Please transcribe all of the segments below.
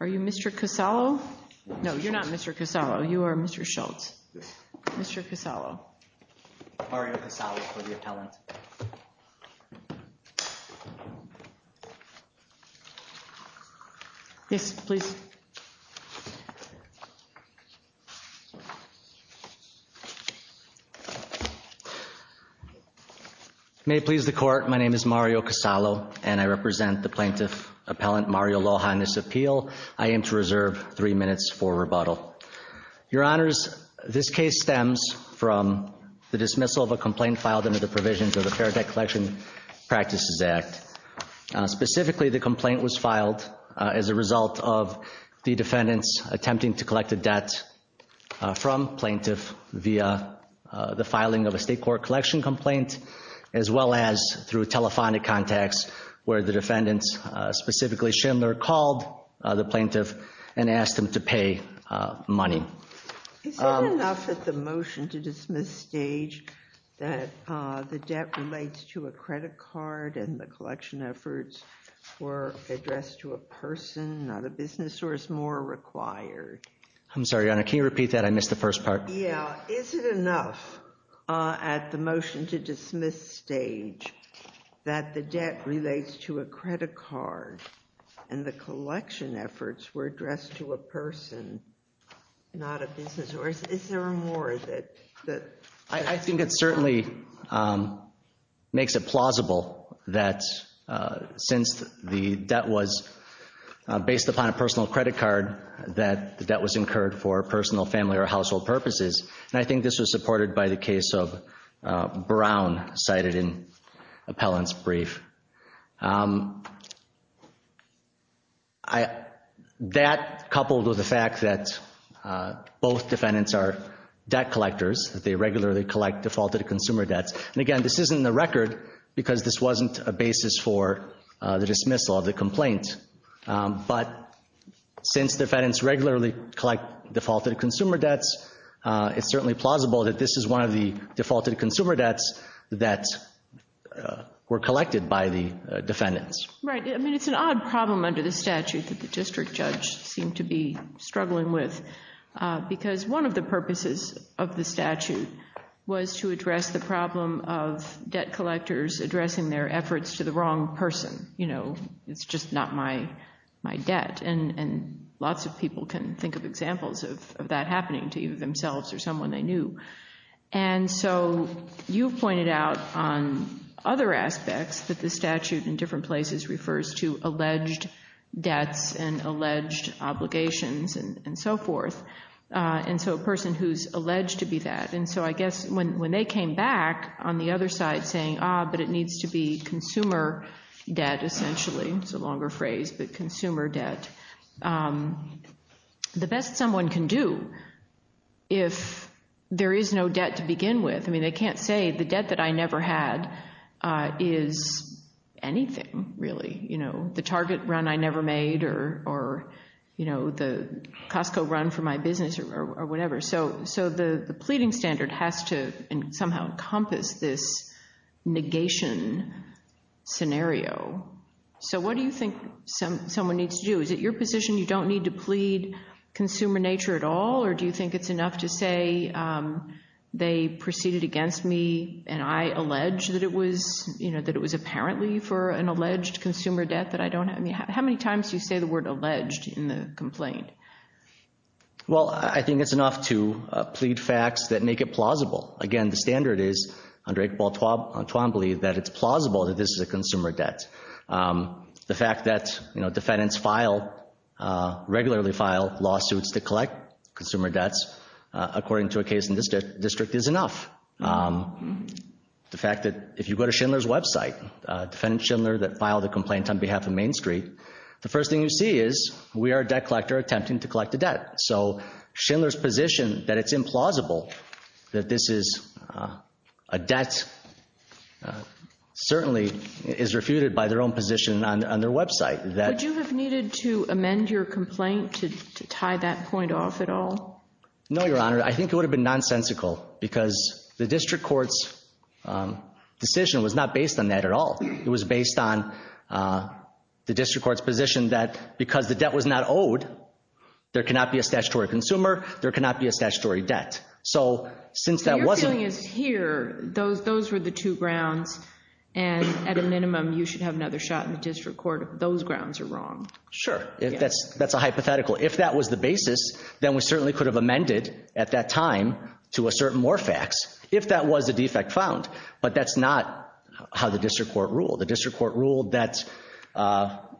Are you Mr. Casalo? No, you're not Mr. Casalo. Mr. Casalo, you are Mr. Schultz. Yes. Mr. Casalo. Mario Casalo for the appellant. Yes, please. May it please the court, my name is Mario Casalo and I represent the plaintiff appellant Mario Loja in this appeal. I am to reserve three minutes for rebuttal. Your Honors, this case stems from the dismissal of a complaint filed under the provisions of the Fair Debt Collection Practices Act. Specifically, the complaint was filed as a result of the defendants attempting to collect a debt from plaintiff via the filing of a state court collection complaint, as well as through telephonic contacts where the defendants, specifically Schindler, called the plaintiff and asked him to pay money. Is that enough at the motion to dismiss stage that the debt relates to a credit card and the collection efforts were addressed to a person, not a business, or is more required? I'm sorry, Your Honor, can you repeat that? I missed the first part. Yeah, is it enough at the motion to dismiss stage that the debt relates to a credit card and the collection efforts were addressed to a person, not a business, or is there more that... I think it certainly makes it plausible that since the debt was based upon a personal credit card, that the debt was incurred for personal, family, or household purposes. And I think this was supported by the case of Brown cited in Appellant's brief. That, coupled with the fact that both defendants are debt collectors, that they regularly collect defaulted consumer debts. And again, this isn't in the record because this wasn't a basis for the dismissal of the complaint. But since defendants regularly collect defaulted consumer debts, it's certainly plausible that this is one of the defaulted consumer debts that were collected by the defendants. Right. I mean, it's an odd problem under the statute that the district judge seemed to be struggling with. Because one of the purposes of the statute was to address the problem of debt collectors addressing their efforts to the wrong person. You know, it's just not my debt. And lots of people can think of examples of that happening to either themselves or someone they knew. And so you've pointed out on other aspects that the statute in different places refers to alleged debts and alleged obligations and so forth. And so a person who's alleged to be that. And so I guess when they came back on the other side saying, ah, but it needs to be consumer debt, essentially. It's a longer phrase, but consumer debt. The best someone can do if there is no debt to begin with. I mean, they can't say the debt that I never had is anything really. You know, the Target run I never made or, you know, the Costco run for my business or whatever. So the pleading standard has to somehow encompass this negation scenario. So what do you think someone needs to do? Is it your position you don't need to plead consumer nature at all? Or do you think it's enough to say they proceeded against me and I allege that it was, you know, that it was apparently for an alleged consumer debt that I don't have? I mean, how many times do you say the word alleged in the complaint? Well, I think it's enough to plead facts that make it plausible. Again, the standard is, under Echabal-Twan, believe that it's plausible that this is a consumer debt. The fact that, you know, defendants file, regularly file lawsuits to collect consumer debts, according to a case in this district, is enough. The fact that if you go to Schindler's website, defendant Schindler that filed a complaint on behalf of Main Street, the first thing you see is we are a debt collector attempting to collect a debt. So Schindler's position that it's implausible that this is a debt certainly is refuted by their own position on their website. Would you have needed to amend your complaint to tie that point off at all? No, Your Honor. I think it would have been nonsensical because the district court's decision was not based on that at all. It was based on the district court's position that because the debt was not owed, there cannot be a statutory consumer, there cannot be a statutory debt. So since that wasn't- So your feeling is here, those were the two grounds, and at a minimum you should have another shot in the district court if those grounds are wrong. Sure. That's a hypothetical. If that was the basis, then we certainly could have amended at that time to assert more facts, if that was a defect found. But that's not how the district court ruled. The district court ruled that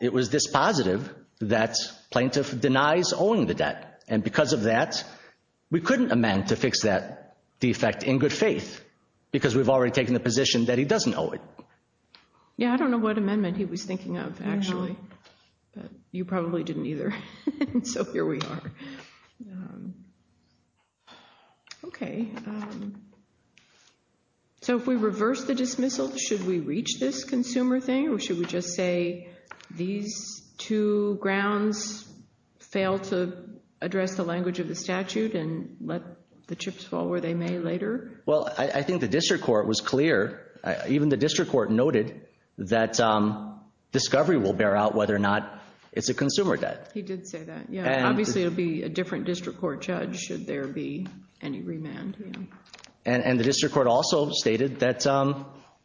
it was dispositive that plaintiff denies owing the debt. And because of that, we couldn't amend to fix that defect in good faith because we've already taken the position that he doesn't owe it. Yeah, I don't know what amendment he was thinking of, actually. You probably didn't either. So here we are. Okay. So if we reverse the dismissal, should we reach this consumer thing, or should we just say these two grounds fail to address the language of the statute and let the chips fall where they may later? Well, I think the district court was clear, even the district court noted, that discovery will bear out whether or not it's a consumer debt. He did say that. Yeah, obviously it would be a different district court judge should there be any remand. And the district court also stated that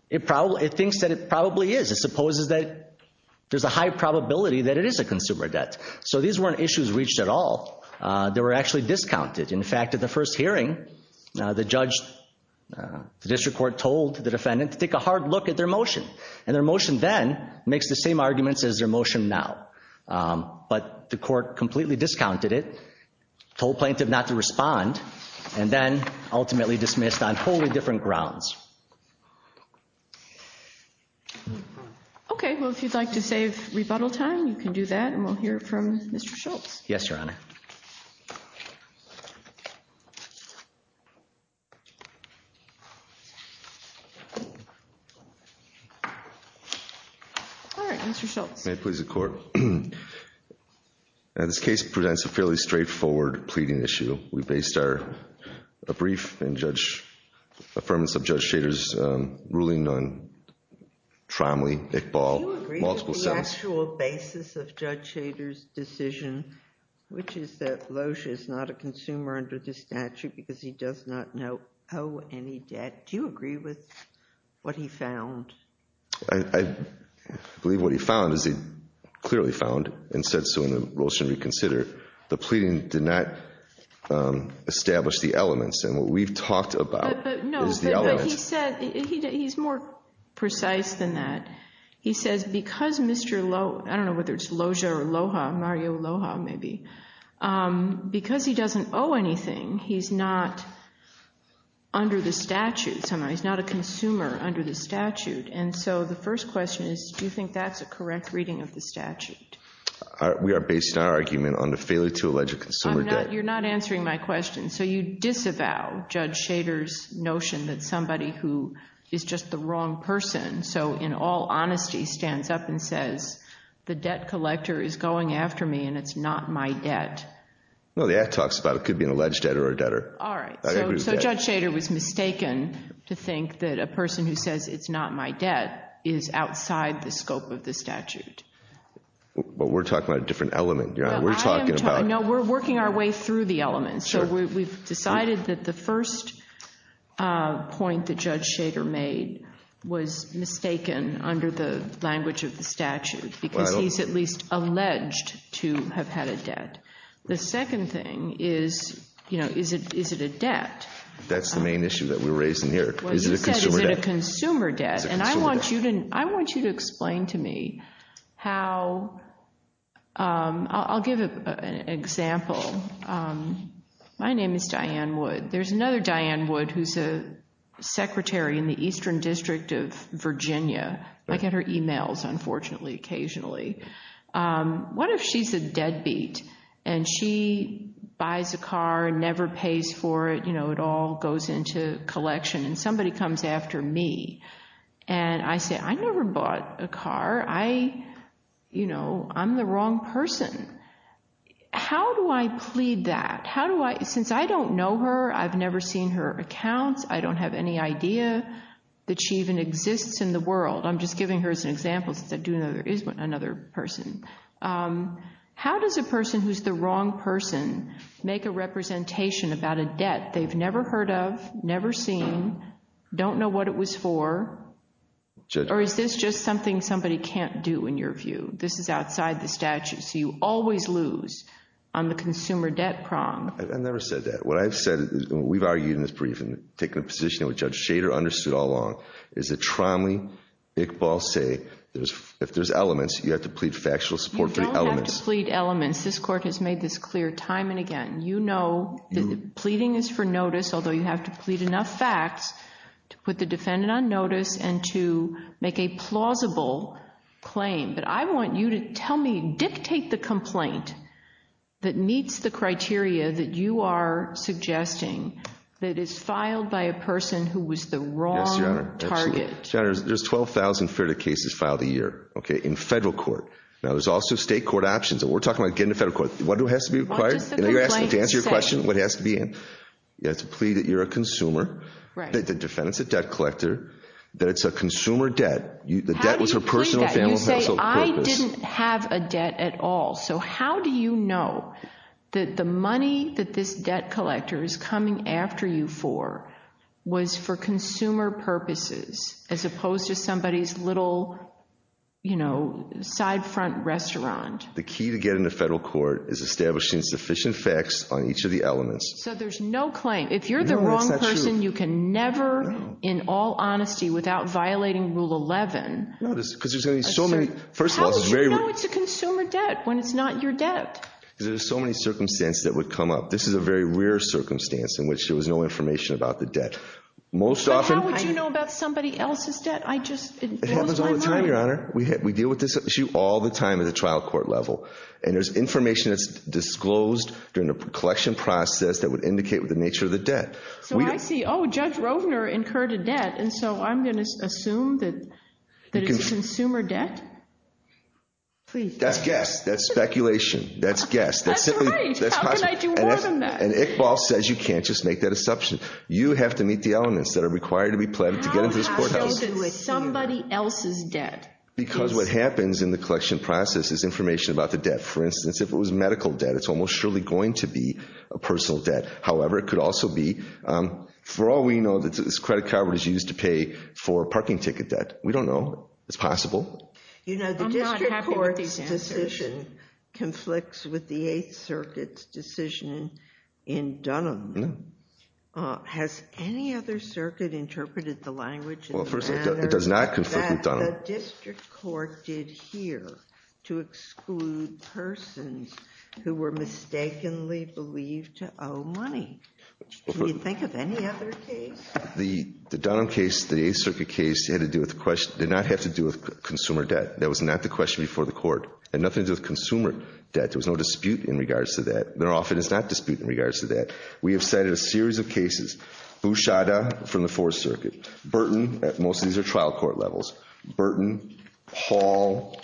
it thinks that it probably is. It supposes that there's a high probability that it is a consumer debt. So these weren't issues reached at all. They were actually discounted. In fact, at the first hearing, the district court told the defendant to take a hard look at their motion. And their motion then makes the same arguments as their motion now. But the court completely discounted it, told plaintiff not to respond, and then ultimately dismissed on wholly different grounds. Okay. Well, if you'd like to save rebuttal time, you can do that, and we'll hear from Mr. Schultz. Yes, Your Honor. All right. Mr. Schultz. May it please the Court. This case presents a fairly straightforward pleading issue. We based our brief and judge – affirmance of Judge Schader's ruling on Tromley, Iqbal, multiple sons. On the actual basis of Judge Schader's decision, which is that Loesch is not a consumer under the statute because he does not owe any debt, do you agree with what he found? I believe what he found is he clearly found, and said so in the rules should reconsider, the pleading did not establish the elements. And what we've talked about is the elements. No, but he said – he's more precise than that. He says because Mr. Loesch – I don't know whether it's Loesch or Aloha, Mario Aloha maybe. Because he doesn't owe anything, he's not under the statute. He's not a consumer under the statute. And so the first question is do you think that's a correct reading of the statute? We are based on our argument on the failure to allege a consumer debt. You're not answering my question. So you disavow Judge Schader's notion that somebody who is just the wrong person, so in all honesty, stands up and says the debt collector is going after me and it's not my debt. No, the act talks about it could be an alleged debtor or a debtor. All right, so Judge Schader was mistaken to think that a person who says it's not my debt is outside the scope of the statute. But we're talking about a different element. No, we're working our way through the elements. So we've decided that the first point that Judge Schader made was mistaken under the language of the statute because he's at least alleged to have had a debt. The second thing is, you know, is it a debt? That's the main issue that we're raising here. Is it a consumer debt? I want you to explain to me how – I'll give an example. My name is Diane Wood. There's another Diane Wood who's a secretary in the Eastern District of Virginia. I get her emails, unfortunately, occasionally. What if she's a deadbeat and she buys a car and never pays for it, you know, and it all goes into collection and somebody comes after me and I say, I never bought a car. I, you know, I'm the wrong person. How do I plead that? How do I – since I don't know her, I've never seen her accounts, I don't have any idea that she even exists in the world. I'm just giving her as an example since I do know there is another person. How does a person who's the wrong person make a representation about a debt they've never heard of, never seen, don't know what it was for, or is this just something somebody can't do in your view? This is outside the statute, so you always lose on the consumer debt prong. I've never said that. What I've said – we've argued in this briefing, taken a position that Judge Shader understood all along, is that Tromley, Iqbal say if there's elements, you have to plead factual support for the elements. You don't have to plead elements. This Court has made this clear time and again. You know that pleading is for notice, although you have to plead enough facts to put the defendant on notice and to make a plausible claim. But I want you to tell me, dictate the complaint that meets the criteria Yes, Your Honor. There's 12,000 FERTA cases filed a year in federal court. Now there's also state court options. We're talking about getting to federal court. What has to be required? To answer your question, what has to be in? You have to plead that you're a consumer, that the defendant's a debt collector, that it's a consumer debt. The debt was her personal, family, household purpose. You say, I didn't have a debt at all. So how do you know that the money that this debt collector is coming after you for was for consumer purposes as opposed to somebody's little, you know, side front restaurant? The key to getting to federal court is establishing sufficient facts on each of the elements. So there's no claim. If you're the wrong person, you can never, in all honesty, without violating Rule 11. No, because there's going to be so many. How would you know it's a consumer debt when it's not your debt? Because there's so many circumstances that would come up. This is a very rare circumstance in which there was no information about the debt. But how would you know about somebody else's debt? It happens all the time, Your Honor. We deal with this issue all the time at the trial court level. And there's information that's disclosed during the collection process that would indicate the nature of the debt. So I see. Oh, Judge Rovner incurred a debt. And so I'm going to assume that it's a consumer debt? That's guess. That's speculation. That's guess. That's right. How can I do more than that? And Iqbal says you can't just make that assumption. You have to meet the elements that are required to be pledged to get into this courthouse. How so does somebody else's debt? Because what happens in the collection process is information about the debt. For instance, if it was medical debt, it's almost surely going to be a personal debt. However, it could also be, for all we know, this credit card was used to pay for a parking ticket debt. We don't know. It's possible. I'm not happy with these answers. You know, the district court's decision conflicts with the Eighth Circuit's decision in Dunham. No. Has any other circuit interpreted the language in the manner that the district court did here to exclude persons who were mistakenly believed to owe money? Can you think of any other case? The Dunham case, the Eighth Circuit case, did not have to do with consumer debt. That was not the question before the court. It had nothing to do with consumer debt. There was no dispute in regards to that. There often is not dispute in regards to that. We have cited a series of cases. Bouchada from the Fourth Circuit. Burton. Most of these are trial court levels. Burton. Hall.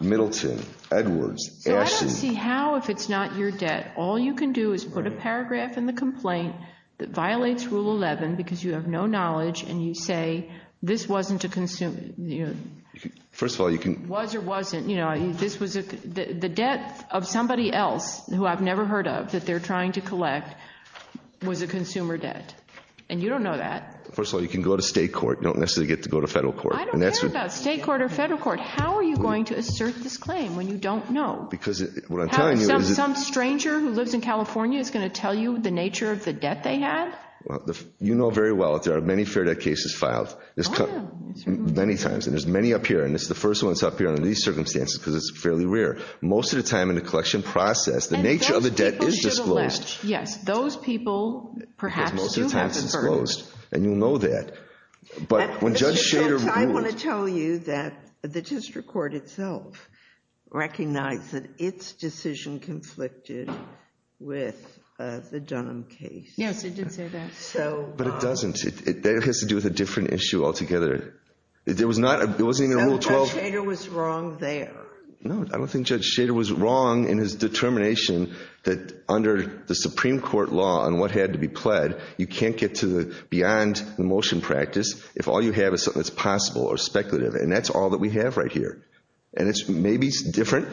Middleton. Edwards. So I don't see how, if it's not your debt, all you can do is put a paragraph in the complaint that violates Rule 11 because you have no knowledge and you say this wasn't a consumer, you know. First of all, you can. Was or wasn't. You know, this was a, the debt of somebody else who I've never heard of that they're trying to collect was a consumer debt. And you don't know that. First of all, you can go to state court. You don't necessarily get to go to federal court. I don't care about state court or federal court. How are you going to assert this claim when you don't know? Because what I'm telling you is. Some stranger who lives in California is going to tell you the nature of the debt they had? You know very well that there are many fair debt cases filed. Many times. And there's many up here. And it's the first one that's up here under these circumstances because it's fairly rare. Most of the time in the collection process, the nature of the debt is disclosed. Yes. Those people perhaps do have the burden. And you know that. But when Judge Shader moved. I want to tell you that the district court itself recognized that its decision conflicted with the Dunham case. Yes, it did say that. So. But it doesn't. It has to do with a different issue altogether. There was not. It wasn't even a little. So Judge Shader was wrong there. No, I don't think Judge Shader was wrong in his determination that under the Supreme Court law on what had to be pled. You can't get to the beyond the motion practice if all you have is something that's possible or speculative. And that's all that we have right here. And it's maybe different.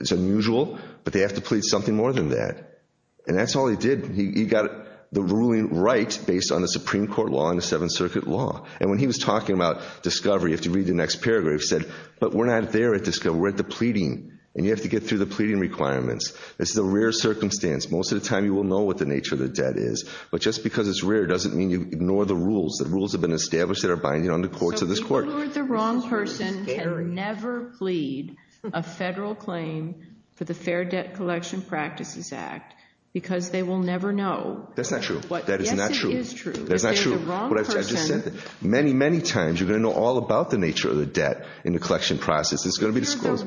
It's unusual. But they have to plead something more than that. And that's all he did. He got the ruling right based on the Supreme Court law and the Seventh Circuit law. And when he was talking about discovery, if you read the next paragraph, he said, but we're not there at discovery. We're at the pleading. And you have to get through the pleading requirements. This is a rare circumstance. Most of the time you will know what the nature of the debt is. But just because it's rare doesn't mean you ignore the rules. The rules have been established that are binding on the courts of this court. You are the wrong person and never plead a federal claim for the Fair Debt Collection Practices Act because they will never know. That's not true. Yes, it is true. That's not true. Many, many times you're going to know all about the nature of the debt in the collection process. You're the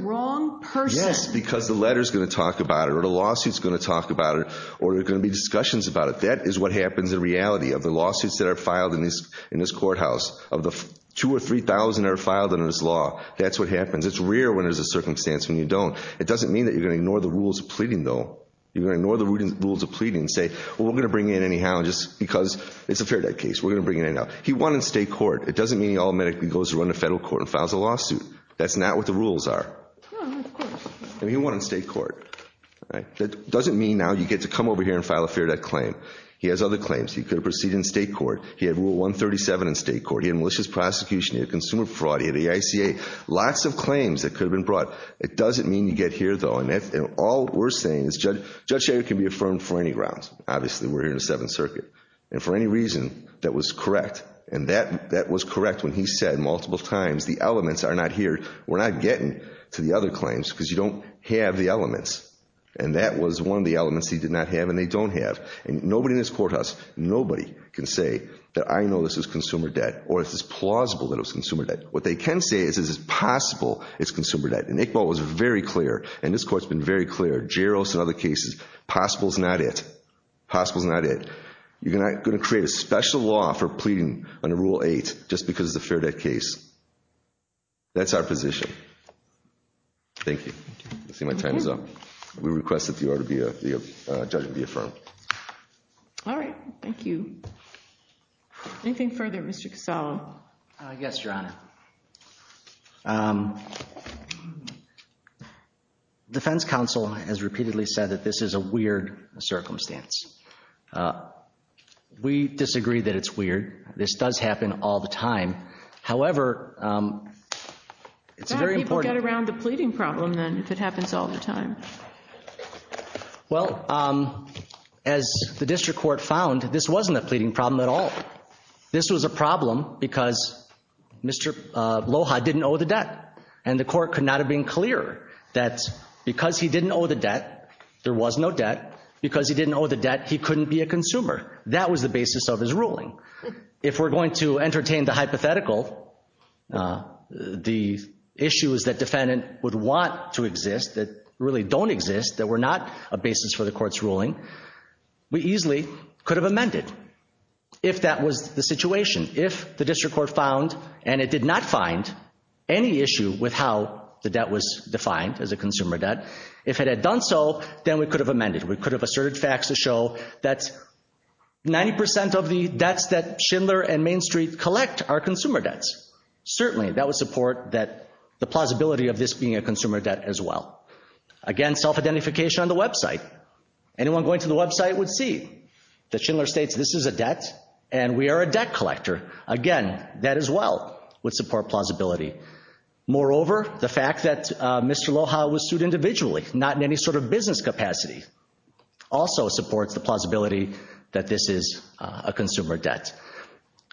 wrong person. Yes, because the letter's going to talk about it or the lawsuit's going to talk about it or there are going to be discussions about it. That is what happens in reality of the lawsuits that are filed in this courthouse. Of the 2,000 or 3,000 that are filed under this law, that's what happens. It's rare when there's a circumstance when you don't. It doesn't mean that you're going to ignore the rules of pleading, though. You're going to ignore the rules of pleading and say, well, we're going to bring it in anyhow just because it's a fair debt case. We're going to bring it in now. He won in state court. It doesn't mean he automatically goes to run the federal court and files a lawsuit. That's not what the rules are. He won in state court. That doesn't mean now you get to come over here and file a fair debt claim. He has other claims. He could have proceeded in state court. He had Rule 137 in state court. He had malicious prosecution. He had consumer fraud. He had the ICA. Lots of claims that could have been brought. It doesn't mean you get here, though. And all we're saying is Judge Shager can be affirmed for any grounds. Obviously, we're here in the Seventh Circuit. And for any reason, that was correct. And that was correct when he said multiple times the elements are not here. We're not getting to the other claims because you don't have the elements. And that was one of the elements he did not have and they don't have. And nobody in this courthouse, nobody can say that I know this is consumer debt or this is plausible that it was consumer debt. What they can say is this is possible it's consumer debt. And Iqbal was very clear, and this Court has been very clear, Jarros and other cases, possible is not it. Possible is not it. You're not going to create a special law for pleading under Rule 8 just because it's a fair debt case. That's our position. Thank you. I see my time is up. We request that the judge be affirmed. All right. Thank you. Anything further? Mr. Cassallo. Yes, Your Honor. Defense counsel has repeatedly said that this is a weird circumstance. We disagree that it's weird. This does happen all the time. However, it's very important. How do people get around the pleading problem then if it happens all the time? Well, as the District Court found, this wasn't a pleading problem at all. This was a problem because Mr. Loja didn't owe the debt. And the Court could not have been clearer that because he didn't owe the debt, there was no debt. Because he didn't owe the debt, he couldn't be a consumer. That was the basis of his ruling. If we're going to entertain the hypothetical, the issue is that defendant would want to exist that really don't exist, that were not a basis for the Court's ruling, we easily could have amended if that was the situation. If the District Court found and it did not find any issue with how the debt was defined as a consumer debt, if it had done so, then we could have amended. We could have asserted facts to show that 90% of the debts that Schindler and Main Street collect are consumer debts. Certainly, that would support the plausibility of this being a consumer debt as well. Again, self-identification on the website. Anyone going to the website would see that Schindler states this is a debt and we are a debt collector. Again, that as well would support plausibility. Moreover, the fact that Mr. Loja was sued individually, not in any sort of business capacity, also supports the plausibility that this is a consumer debt.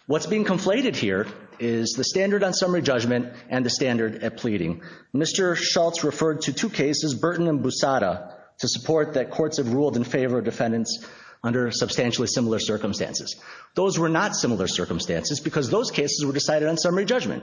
What's being conflated here is the standard on summary judgment and the standard at pleading. Mr. Schultz referred to two cases, Burton and Busada, to support that courts have ruled in favor of defendants under substantially similar circumstances. Those were not similar circumstances because those cases were decided on summary judgment.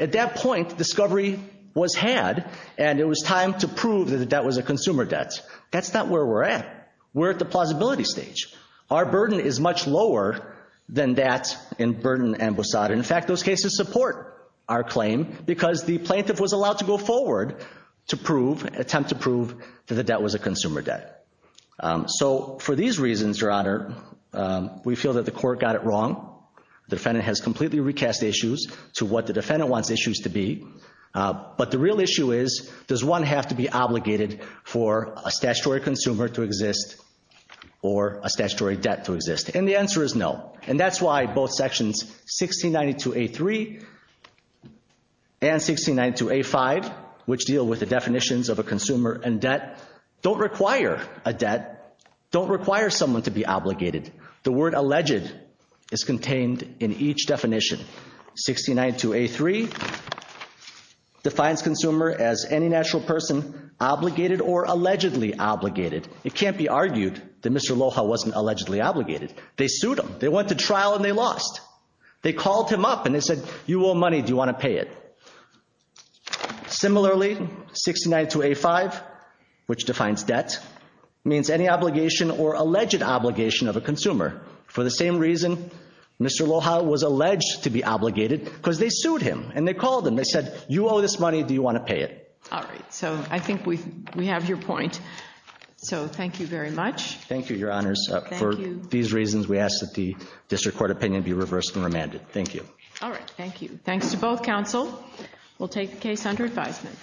At that point, discovery was had and it was time to prove that the debt was a consumer debt. That's not where we're at. We're at the plausibility stage. Our burden is much lower than that in Burton and Busada. In fact, those cases support our claim because the plaintiff was allowed to go forward to attempt to prove that the debt was a consumer debt. So for these reasons, Your Honor, we feel that the court got it wrong. The defendant has completely recast issues to what the defendant wants issues to be. But the real issue is, does one have to be obligated for a statutory consumer to exist or a statutory debt to exist? And the answer is no. And that's why both sections 1692A3 and 1692A5, which deal with the definitions of a consumer and debt, don't require a debt, don't require someone to be obligated. The word alleged is contained in each definition. 1692A3 defines consumer as any natural person obligated or allegedly obligated. It can't be argued that Mr. Aloha wasn't allegedly obligated. They sued him. They went to trial and they lost. They called him up and they said, you owe money. Do you want to pay it? Similarly, 1692A5, which defines debt, means any obligation or alleged obligation of a consumer. For the same reason, Mr. Aloha was alleged to be obligated because they sued him and they called him and they said, you owe this money. Do you want to pay it? All right. So I think we have your point. So thank you very much. Thank you, Your Honors. Thank you. For these reasons, we ask that the district court opinion be reversed and remanded. Thank you. All right. Thank you. Thanks to both counsel. We'll take the case under advisement.